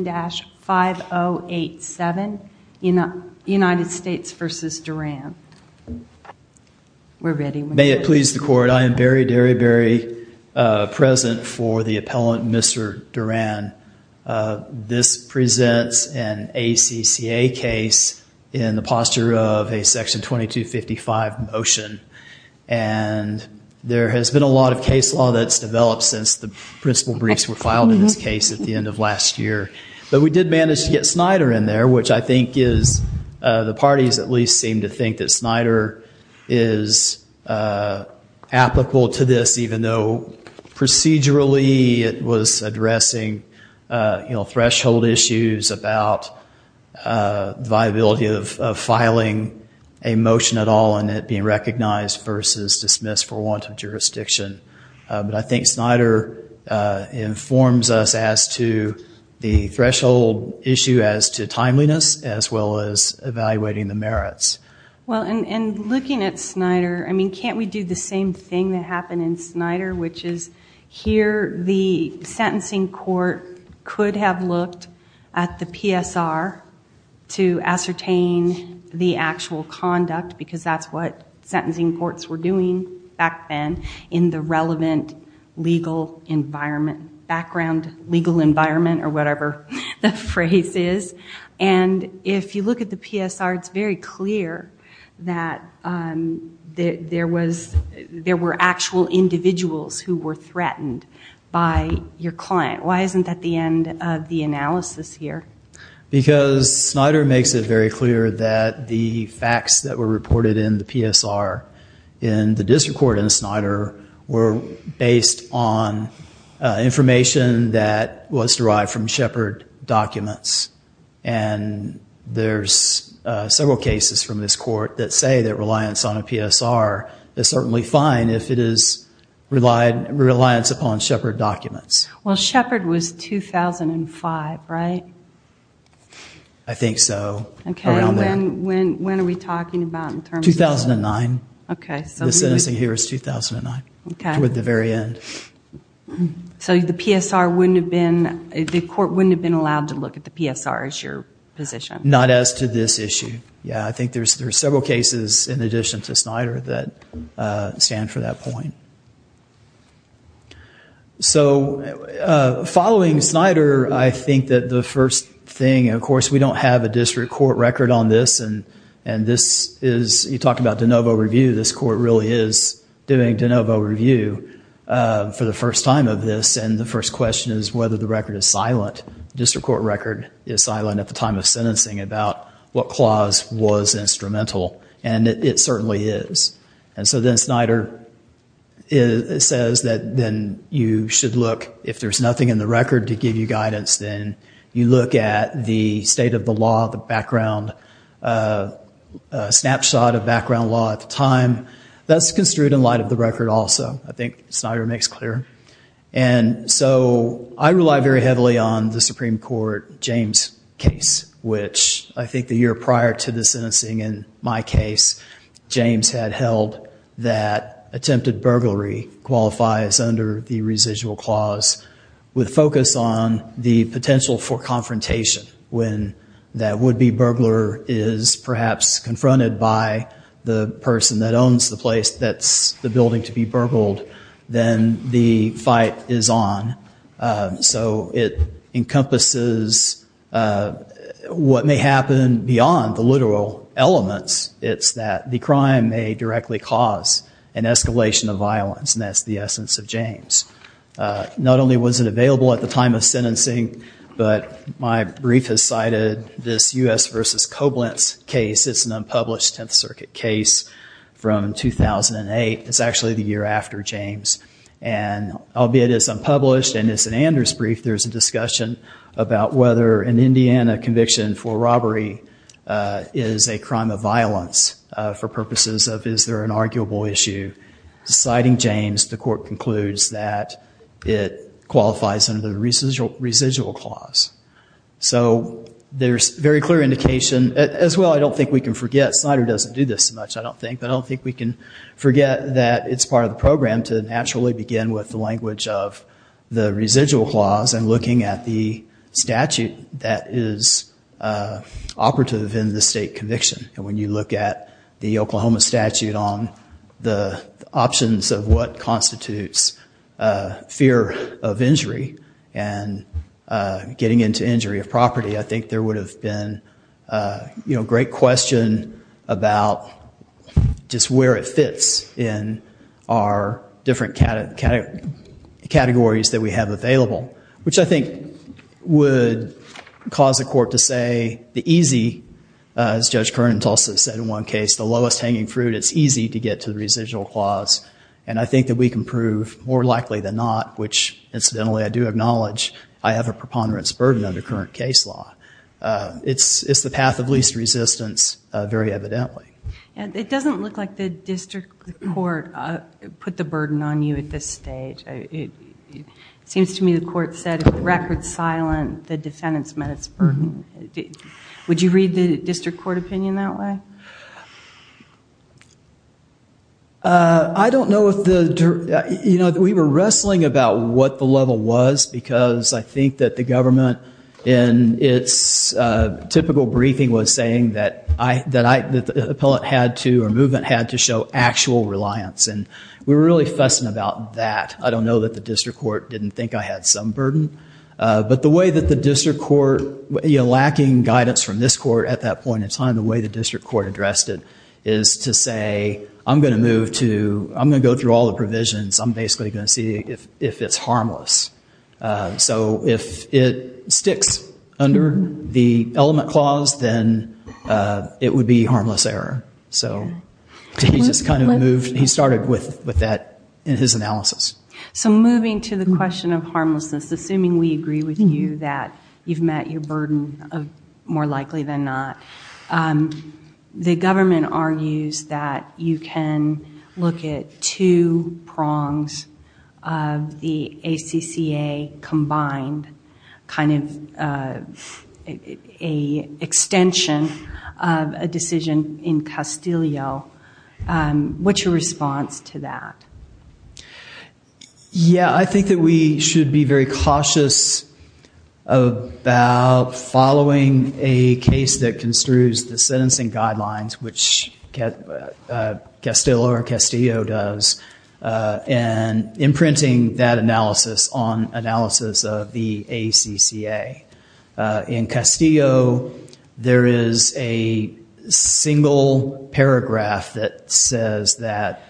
May it please the court I am Barry Derryberry present for the appellant Mr. Duran. This presents an ACCA case in the posture of a section 2255 motion and there has been a lot of case law that's developed since the principal briefs were filed in this case at the end of last year. But we did manage to get Snyder in there which I think is the parties at least seem to think that Snyder is applicable to this even though procedurally it was addressing you know threshold issues about viability of filing a motion at all and it being recognized versus dismissed for want of jurisdiction. But I think Snyder informs us as to the threshold issue as to timeliness as well as evaluating the merits. Well and looking at Snyder I mean can't we do the same thing that happened in Snyder which is here the sentencing court could have looked at the PSR to ascertain the actual conduct because that's what sentencing courts were doing back then in the relevant legal environment background legal environment or whatever the phrase is. And if you look at the PSR it's very clear that there was there were actual individuals who were threatened by your client. Why isn't that the end of the analysis here. Because Snyder makes it very clear that the facts that were reported in the PSR in the district court in Snyder were based on information that was derived from Shepard documents and there's several cases from this court that say that reliance on a PSR is certainly fine if it is relied reliance upon Shepard documents. Well Shepard was 2005 right? I think so. When are we talking about? 2009. Okay. The sentencing here is 2009. Okay. Toward the very end. So the PSR wouldn't have been the court wouldn't have been allowed to look at the PSR as your position. Not as to this issue. Yeah I think there's several cases in addition to Snyder that stand for that point. So following Snyder I think that the first thing of course we don't have a district court record on this and this is you talked about de novo review this court really is doing de novo review for the first time of this and the first question is whether the record is silent. District court record is silent at the time of sentencing about what clause was instrumental and it certainly is. And so then Snyder says that then you should look if there's nothing in the record to give you guidance then you look at the state of the law the background snapshot of background law at the time. That's construed in light of the record also. I think Snyder makes clear. And so I rely very heavily on the Supreme Court James case which I think the year prior to the sentencing in my case James had held that attempted burglary qualifies under the residual clause with focus on the potential for confrontation when that would be burglar is perhaps confronted by the person that owns the place that's the building to be burgled. Then the fight is on. So it encompasses what may happen beyond the literal elements it's that the crime may directly cause an escalation of violence and that's the essence of James. Not only was it available at the time of sentencing but my brief has cited this U.S. versus Koblenz case. It's an unpublished 10th Circuit case from 2008. It's actually the year after James and albeit it's unpublished and it's an Anders brief there's a discussion about whether an Indiana conviction for robbery is a crime of violence for purposes of is there an arguable issue. Citing James the court concludes that it qualifies under the residual clause. So there's very clear indication as well I don't think we can forget Snyder doesn't do this much I don't think but I don't think we can forget that it's part of the program to naturally begin with the language of the residual clause and looking at the statute that is operative in the state conviction. When you look at the Oklahoma statute on the options of what constitutes fear of injury and getting into injury of property I think there would have been a great question about just where it fits in our different categories that we have available. Which I think would cause the court to say the easy as Judge Kern and Tulsa said in one case the lowest hanging fruit it's easy to get to the residual clause and I think that we can prove more likely than not which incidentally I do acknowledge I have a preponderance burden under current case law. It's the path of least resistance very evidently. It doesn't look like the district court put the burden on you at this stage. It seems to me the court said record silent the defendants met its burden. Would you read the district court opinion that way? I don't know. We were wrestling about what the level was because I think that the government in its typical briefing was saying that the appellate had to or movement had to show actual reliance and we were really fussing about that. I don't know that the district court didn't think I had some burden. But the way that the district court lacking guidance from this court at that point in time the way the district court addressed it is to say I'm going to move to I'm going to go through all the provisions I'm basically going to see if it's harmless. So if it sticks under the element clause then it would be harmless error. So he just kind of moved he started with that in his analysis. So moving to the question of harmlessness assuming we agree with you that you've met your burden of more likely than not. The government argues that you can look at two prongs of the ACCA combined kind of a extension of a decision in Castillo. What's your response to that? Yeah I think that we should be very cautious about following a case that construes the sentencing guidelines which Castillo does and imprinting that analysis on analysis of the ACCA. In Castillo there is a single paragraph that says that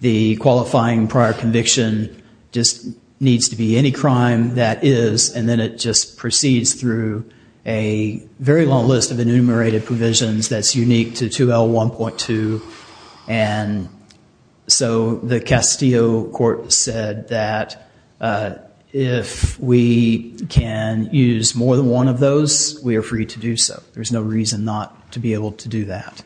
the qualifying prior conviction just needs to be any crime that is and then it just proceeds through a very long list of enumerated provisions that's unique to 2L1.2. And so the Castillo court said that if we can use more than one of those we are free to do so. There's no reason not to be able to do that.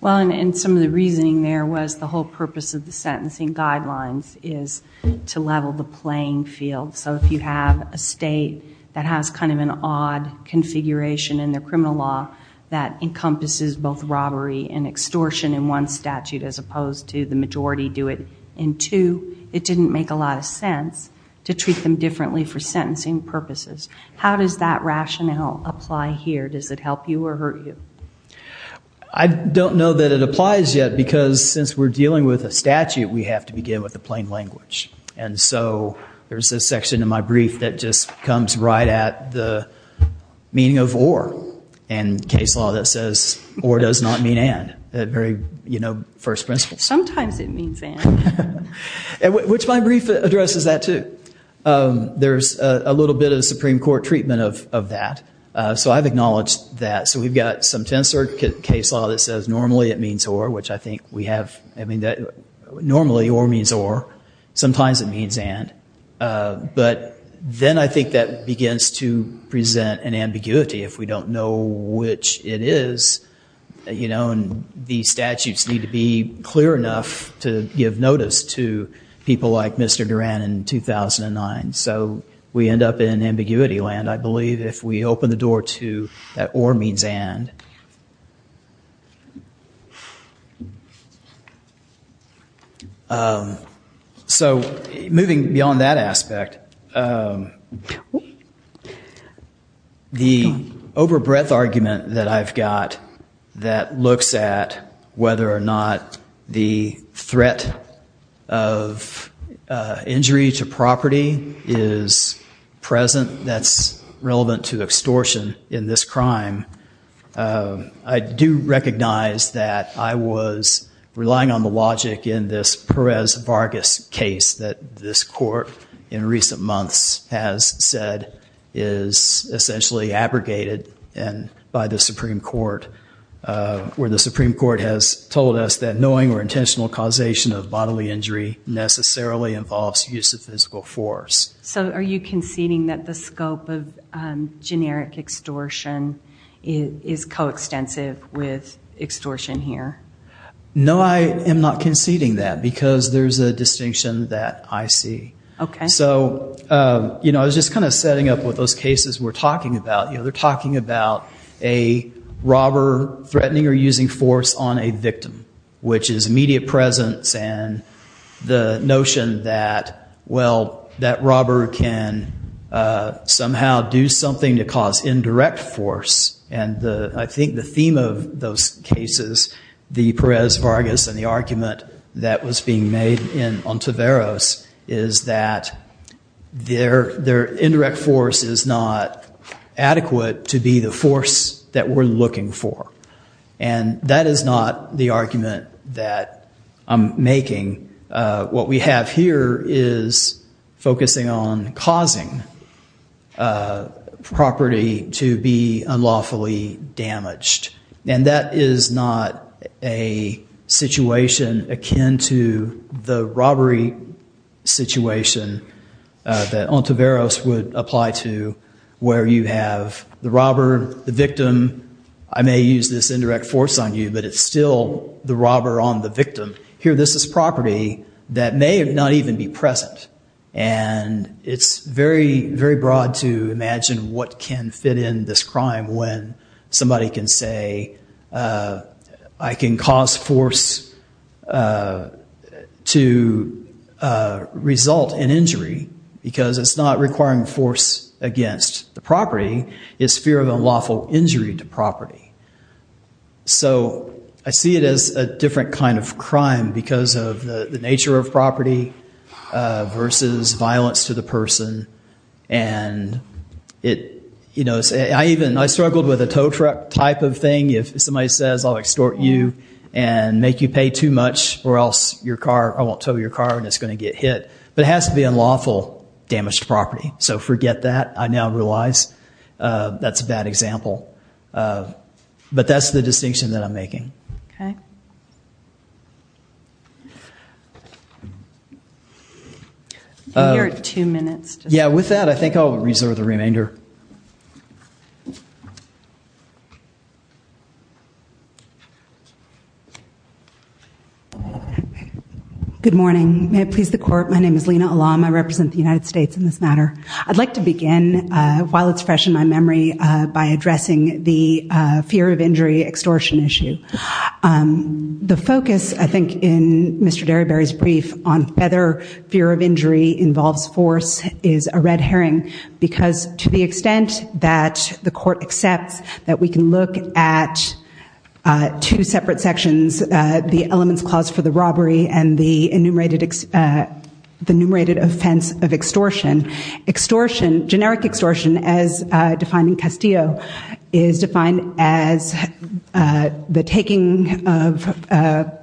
Well and some of the reasoning there was the whole purpose of the sentencing guidelines is to level the playing field. So if you have a state that has kind of an odd configuration in their criminal law that encompasses both robbery and extortion in one statute as opposed to the majority do it in two. It didn't make a lot of sense to treat them differently for sentencing purposes. How does that rationale apply here? Does it help you or hurt you? I don't know that it applies yet because since we're dealing with a statute we have to begin with the plain language. And so there's a section in my brief that just comes right at the meaning of or. And case law that says or does not mean and. That very first principle. Sometimes it means and. Which my brief addresses that too. There's a little bit of Supreme Court treatment of that. So I've acknowledged that. So we've got some tensor case law that says normally it means or. Which I think we have. Normally or means or. Sometimes it means and. But then I think that begins to present an ambiguity if we don't know which it is. These statutes need to be clear enough to give notice to people like Mr. Duran in 2009. So we end up in ambiguity land I believe. If we open the door to that or means and. So moving beyond that aspect. The over breadth argument that I've got that looks at whether or not the threat of injury to property is present. That's relevant to extortion in this crime. I do recognize that I was relying on the logic in this Perez Vargas case. That this court in recent months has said is essentially abrogated by the Supreme Court. Where the Supreme Court has told us that knowing or intentional causation of bodily injury necessarily involves use of physical force. So are you conceding that the scope of generic extortion is coextensive with extortion here? No, I am not conceding that. Because there's a distinction that I see. So I was just kind of setting up what those cases were talking about. They're talking about a robber threatening or using force on a victim. Which is immediate presence and the notion that, well, that robber can somehow do something to cause indirect force. And I think the theme of those cases, the Perez Vargas and the argument that was being made on Taveras. Is that their indirect force is not adequate to be the force that we're looking for. And that is not the argument that I'm making. What we have here is focusing on causing property to be unlawfully damaged. And that is not a situation akin to the robbery situation that on Taveras would apply to. Where you have the robber, the victim. I may use this indirect force on you, but it's still the robber on the victim. Here this is property that may not even be present. And it's very, very broad to imagine what can fit in this crime when somebody can say, I can cause force to result in injury. Because it's not requiring force against the property. It's fear of unlawful injury to property. So I see it as a different kind of crime because of the nature of property versus violence to the person. And I struggled with a tow truck type of thing. If somebody says, I'll extort you and make you pay too much or else I won't tow your car and it's going to get hit. But it has to be unlawful damaged property. So forget that, I now realize. That's a bad example. But that's the distinction that I'm making. Okay. You're at two minutes. Yeah, with that I think I'll reserve the remainder. Good morning. May it please the court. My name is Lena Alam. I represent the United States in this matter. I'd like to begin, while it's fresh in my memory, by addressing the fear of injury extortion issue. The focus, I think, in Mr. Derryberry's brief on whether fear of injury involves force is a red herring. Because to the extent that the court accepts that we can look at two separate sections, the elements clause for the robbery and the enumerated offense of extortion, extortion, generic extortion, as defined in Castillo, is defined as the taking of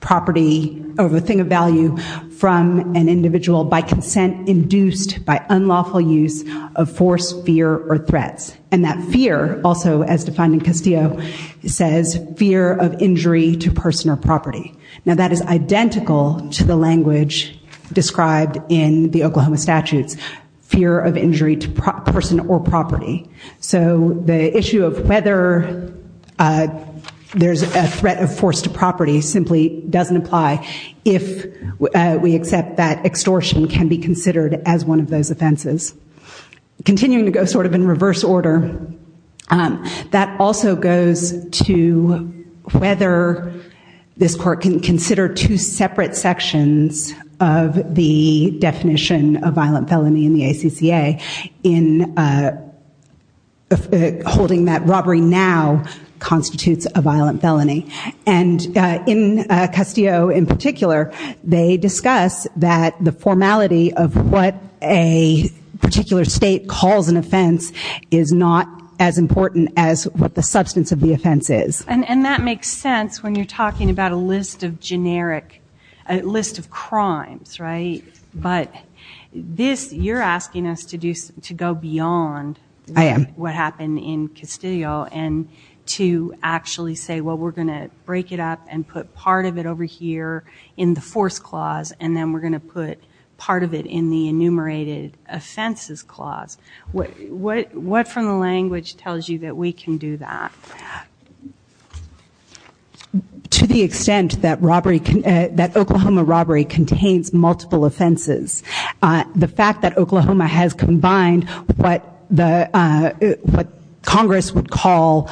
property or a thing of value from an individual by consent induced by unlawful use of force, fear, or threats. And that fear, also as defined in Castillo, says fear of injury to person or property. Now that is identical to the language described in the Oklahoma statutes, fear of injury to person or property. So the issue of whether there's a threat of force to property simply doesn't apply if we accept that extortion can be considered as one of those offenses. Continuing to go sort of in reverse order, that also goes to whether this court can consider two separate sections of the definition of violent felony in the ACCA in holding that robbery now constitutes a violent felony. And in Castillo in particular, they discuss that the formality of what a particular state calls an offense is not as important as what the substance of the offense is. And that makes sense when you're talking about a list of generic, a list of crimes, right? But this, you're asking us to go beyond what happened in Castillo and to actually say, well, we're going to break it up and put part of it over here in the force clause and then we're going to put part of it in the enumerated offenses clause. What from the language tells you that we can do that? To the extent that robbery, that Oklahoma robbery contains multiple offenses. The fact that Oklahoma has combined what Congress would call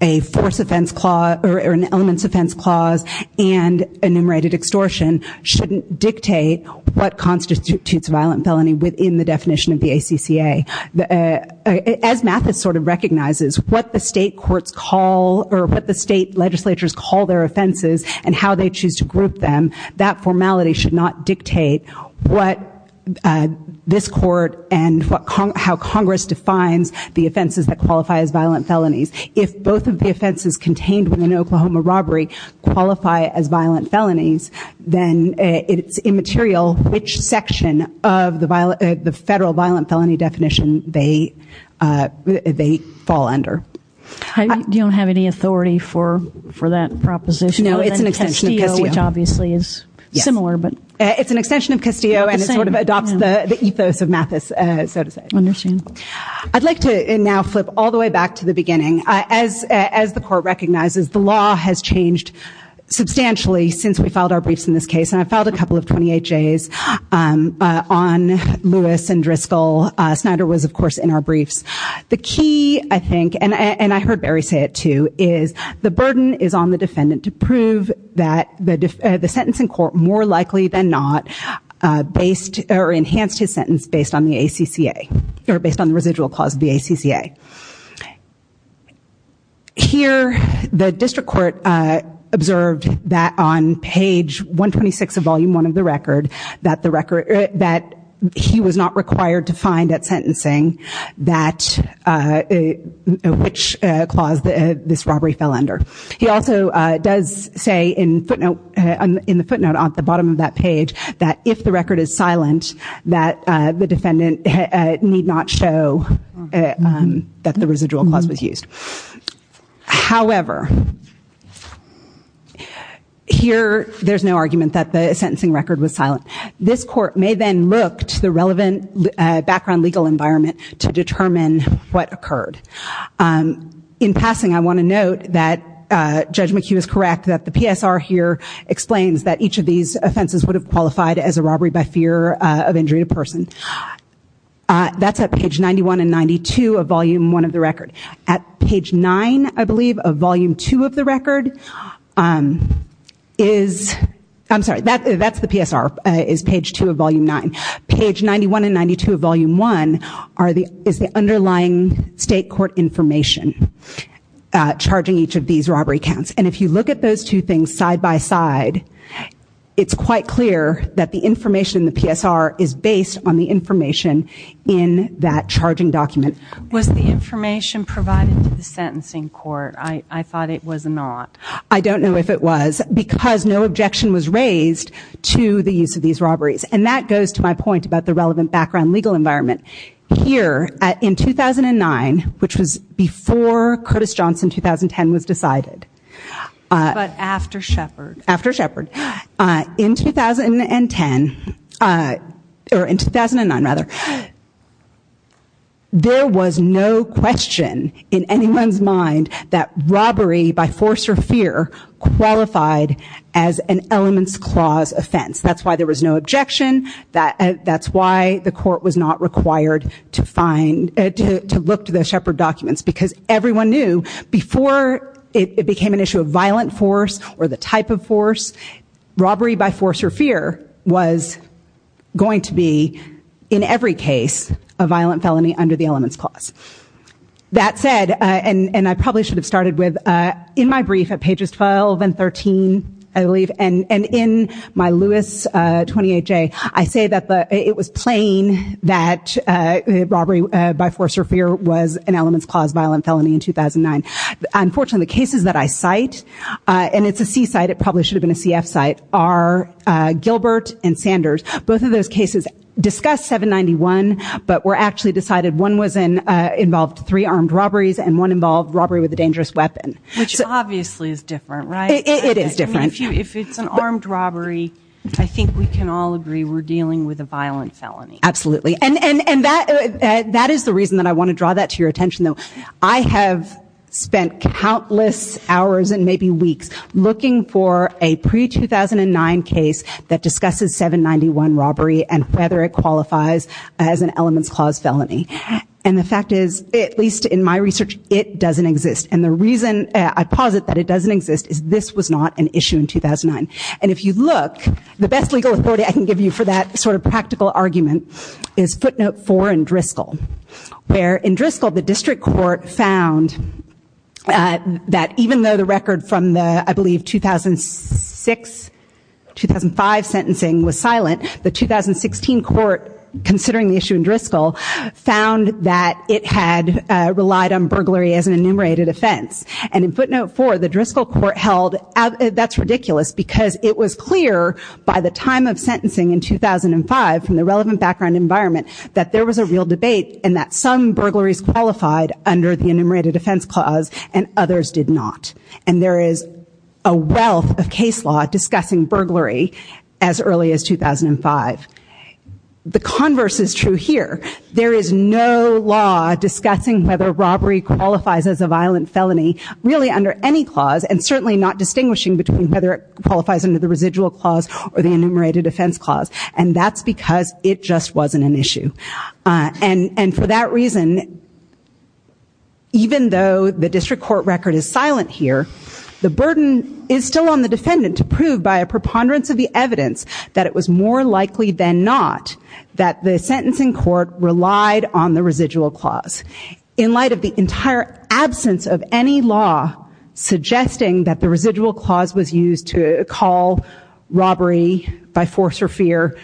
a force offense clause or an elements offense clause and enumerated extortion shouldn't dictate what constitutes a violent felony within the definition of the ACCA. As Mathis sort of recognizes, what the state courts call or what the state legislatures call their offenses and how they choose to group them, that formality should not dictate what this court and how Congress defines the offenses that qualify as violent felonies. If both of the offenses contained within Oklahoma robbery qualify as violent felonies, then it's immaterial which section of the federal violent felony definition they fall under. I don't have any authority for that proposition. No, it's an extension of Castillo. Which obviously is similar. It's an extension of Castillo and it sort of adopts the ethos of Mathis, so to say. I'd like to now flip all the way back to the beginning. As the court recognizes, the law has changed substantially since we filed our briefs in this case. And I filed a couple of 28Js on Lewis and Driscoll. Snyder was, of course, in our briefs. The key, I think, and I heard Barry say it too, is the burden is on the defendant to prove that the sentencing court more likely than not enhanced his sentence based on the residual clause of the ACCA. Here, the district court observed that on page 126 of volume 1 of the record, that he was not required to find at sentencing which clause this robbery fell under. He also does say in the footnote at the bottom of that page that if the record is silent, that the defendant need not show that the residual clause was used. However, here there's no argument that the sentencing record was silent. This court may then look to the relevant background legal environment to determine what occurred. In passing, I want to note that Judge McHugh is correct that the PSR here explains that each of these offenses would have qualified as a robbery by fear of injury to person. That's at page 91 and 92 of volume 1 of the record. At page 9, I believe, of volume 2 of the record is, I'm sorry, that's the PSR, is page 2 of volume 9. Page 91 and 92 of volume 1 is the underlying state court information charging each of these robbery counts. And if you look at those two things side by side, it's quite clear that the information in the PSR is based on the information in that charging document. Was the information provided to the sentencing court? I thought it was not. I don't know if it was because no objection was raised to the use of these robberies. And that goes to my point about the relevant background legal environment. Here, in 2009, which was before Curtis Johnson 2010 was decided. But after Shepard. After Shepard. In 2010, or in 2009 rather, there was no question in anyone's mind that robbery by force or fear qualified as an elements clause offense. That's why there was no objection. That's why the court was not required to find, to look to the Shepard documents. Because everyone knew before it became an issue of violent force or the type of force, robbery by force or fear was going to be, in every case, a violent felony under the elements clause. That said, and I probably should have started with, in my brief at pages 12 and 13, I believe, and in my Lewis 28-J, I say that it was plain that robbery by force or fear was an elements clause violent felony in 2009. Unfortunately, the cases that I cite, and it's a C-cite, it probably should have been a CF-cite, are Gilbert and Sanders. Both of those cases discussed 791, but were actually decided one involved three armed robberies, and one involved robbery with a dangerous weapon. Which obviously is different, right? It is different. If it's an armed robbery, I think we can all agree we're dealing with a violent felony. Absolutely. And that is the reason that I want to draw that to your attention, though. I have spent countless hours and maybe weeks looking for a pre-2009 case that discusses 791 robbery and whether it qualifies as an elements clause felony. And the fact is, at least in my research, it doesn't exist. And the reason I posit that it doesn't exist is this was not an issue in 2009. And if you look, the best legal authority I can give you for that sort of practical argument is footnote four in Driscoll. Where in Driscoll, the district court found that even though the record from the, I believe, 2006-2005 sentencing was silent, the 2016 court, considering the issue in Driscoll, found that it had relied on burglary as an enumerated offense. And in footnote four, the Driscoll court held, that's ridiculous because it was clear by the time of sentencing in 2005 from the relevant background environment that there was a real debate and that some burglaries qualified under the enumerated offense clause and others did not. And there is a wealth of case law discussing burglary as early as 2005. The converse is true here. There is no law discussing whether robbery qualifies as a violent felony really under any clause and certainly not distinguishing between whether it qualifies under the residual clause or the enumerated offense clause. And that's because it just wasn't an issue. And for that reason, even though the district court record is silent here, the burden is still on the defendant to prove by a preponderance of the evidence that it was more likely than not that the sentencing court relied on the residual clause. In light of the entire absence of any law suggesting that the residual clause was used to call robbery by force or fear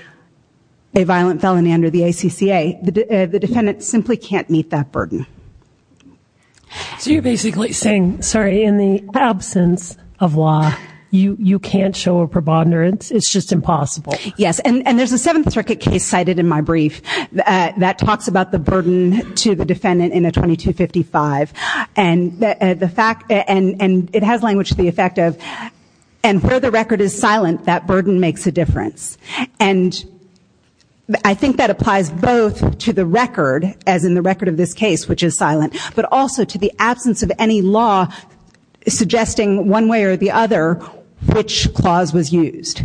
a violent felony under the ACCA, the defendant simply can't meet that burden. So you're basically saying, sorry, in the absence of law, you can't show a preponderance. It's just impossible. Yes, and there's a Seventh Circuit case cited in my brief that talks about the burden to the defendant in a 2255. And it has language to the effect of, and where the record is silent, that burden makes a difference. And I think that applies both to the record, as in the record of this case, which is silent, but also to the absence of any law suggesting one way or the other which clause was used.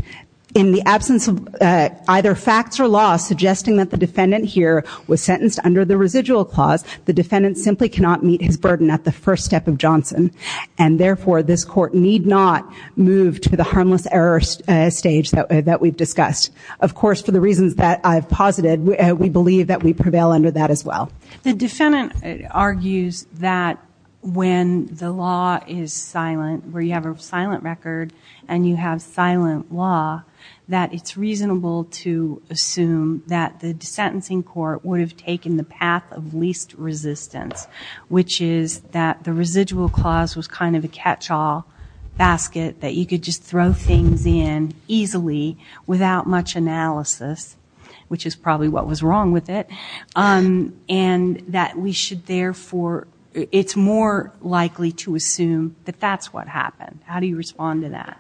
In the absence of either facts or law suggesting that the defendant here was sentenced under the residual clause, the defendant simply cannot meet his burden at the first step of Johnson. And therefore, this court need not move to the harmless error stage that we've discussed. Of course, for the reasons that I've posited, we believe that we prevail under that as well. The defendant argues that when the law is silent, where you have a silent record and you have silent law, that it's reasonable to assume that the sentencing court would have taken the path of least resistance, which is that the residual clause was kind of a catch-all basket that you could just throw things in easily without much analysis, which is probably what was wrong with it, and that we should therefore, it's more likely to assume that that's what happened. How do you respond to that?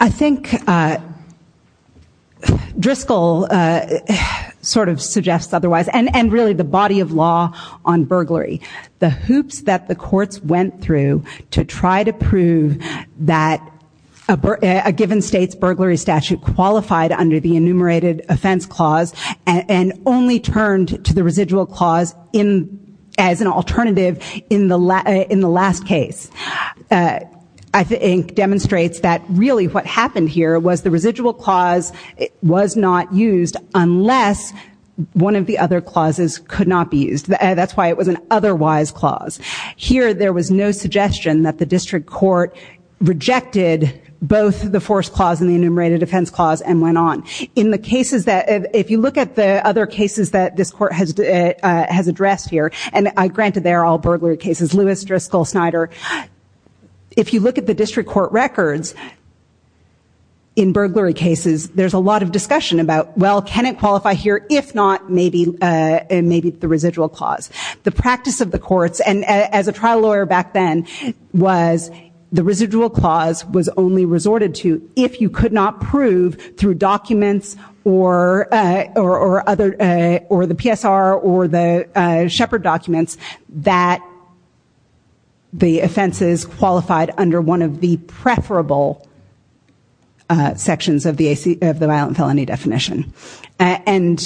I think Driscoll sort of suggests otherwise, and really the body of law on burglary. The hoops that the courts went through to try to prove that a given state's burglary statute qualified under the enumerated offense clause and only turned to the residual clause as an alternative in the last case, I think demonstrates that really what happened here was the residual clause was not used unless one of the other clauses could not be used. That's why it was an otherwise clause. Here, there was no suggestion that the district court rejected both the forced clause and the enumerated offense clause and went on. In the cases that, if you look at the other cases that this court has addressed here, and granted they're all burglary cases, Lewis, Driscoll, Snyder, if you look at the district court records in burglary cases, there's a lot of discussion about, well, can it qualify here? If not, maybe the residual clause. The practice of the courts, and as a trial lawyer back then, was the residual clause was only resorted to if you could not prove through documents or the PSR or the Shepard documents that the offenses qualified under one of the preferable sections of the violent felony definition. And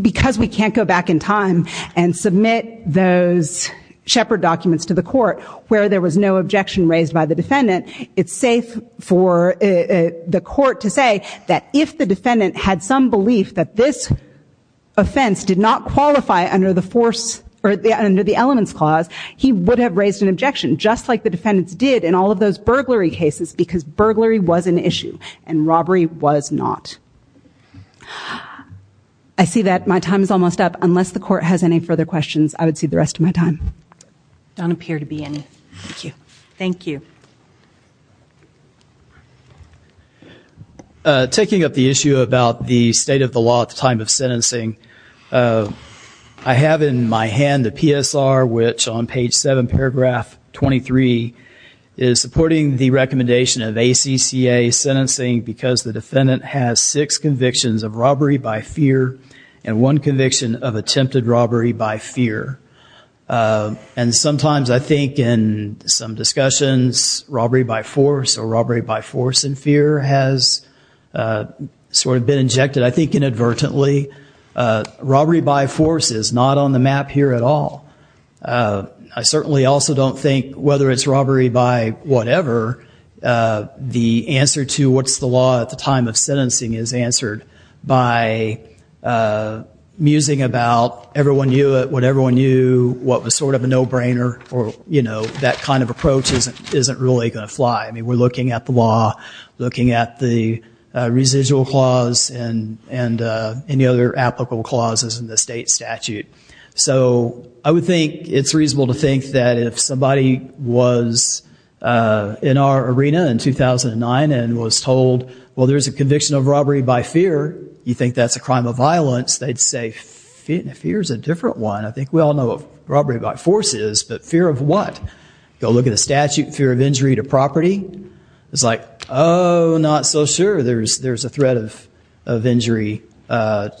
because we can't go back in time and submit those Shepard documents to the court where there was no objection raised by the defendant, it's safe for the court to say that if the defendant had some belief that this offense did not qualify under the force or under the elements clause, he would have raised an objection, just like the defendants did in all of those burglary cases because burglary was an issue and robbery was not. I see that my time is almost up. Unless the court has any further questions, I would cede the rest of my time. There don't appear to be any. Thank you. Thank you. Taking up the issue about the state of the law at the time of sentencing, I have in my hand a PSR which on page 7, paragraph 23, is supporting the recommendation of ACCA sentencing because the defendant has six convictions of robbery by fear and one conviction of attempted robbery by fear. And sometimes I think in some discussions, robbery by force or robbery by force and fear has sort of been injected, I think, inadvertently. Robbery by force is not on the map here at all. I certainly also don't think whether it's robbery by whatever, the answer to what's the law at the time of sentencing is answered by musing about what everyone knew, what was sort of a no-brainer or, you know, that kind of approach isn't really going to fly. I mean, we're looking at the law, looking at the residual clause and any other applicable clauses in the state statute. So I would think it's reasonable to think that if somebody was in our arena in 2009 and was told, well, there's a conviction of robbery by fear, you think that's a crime of violence, they'd say, fear's a different one. I think we all know what robbery by force is, but fear of what? Go look at a statute, fear of injury to property. It's like, oh, not so sure. There's a threat of injury to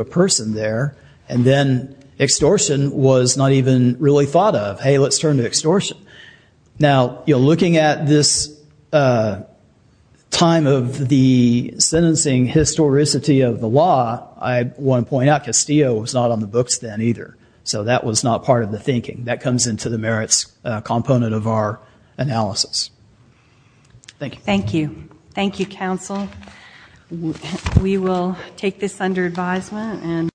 a person there. And then extortion was not even really thought of. Hey, let's turn to extortion. Now, looking at this time of the sentencing historicity of the law, I want to point out Castillo was not on the books then either, so that was not part of the thinking. That comes into the merits component of our analysis. Thank you. Thank you. Thank you, counsel. We will take this under advisement.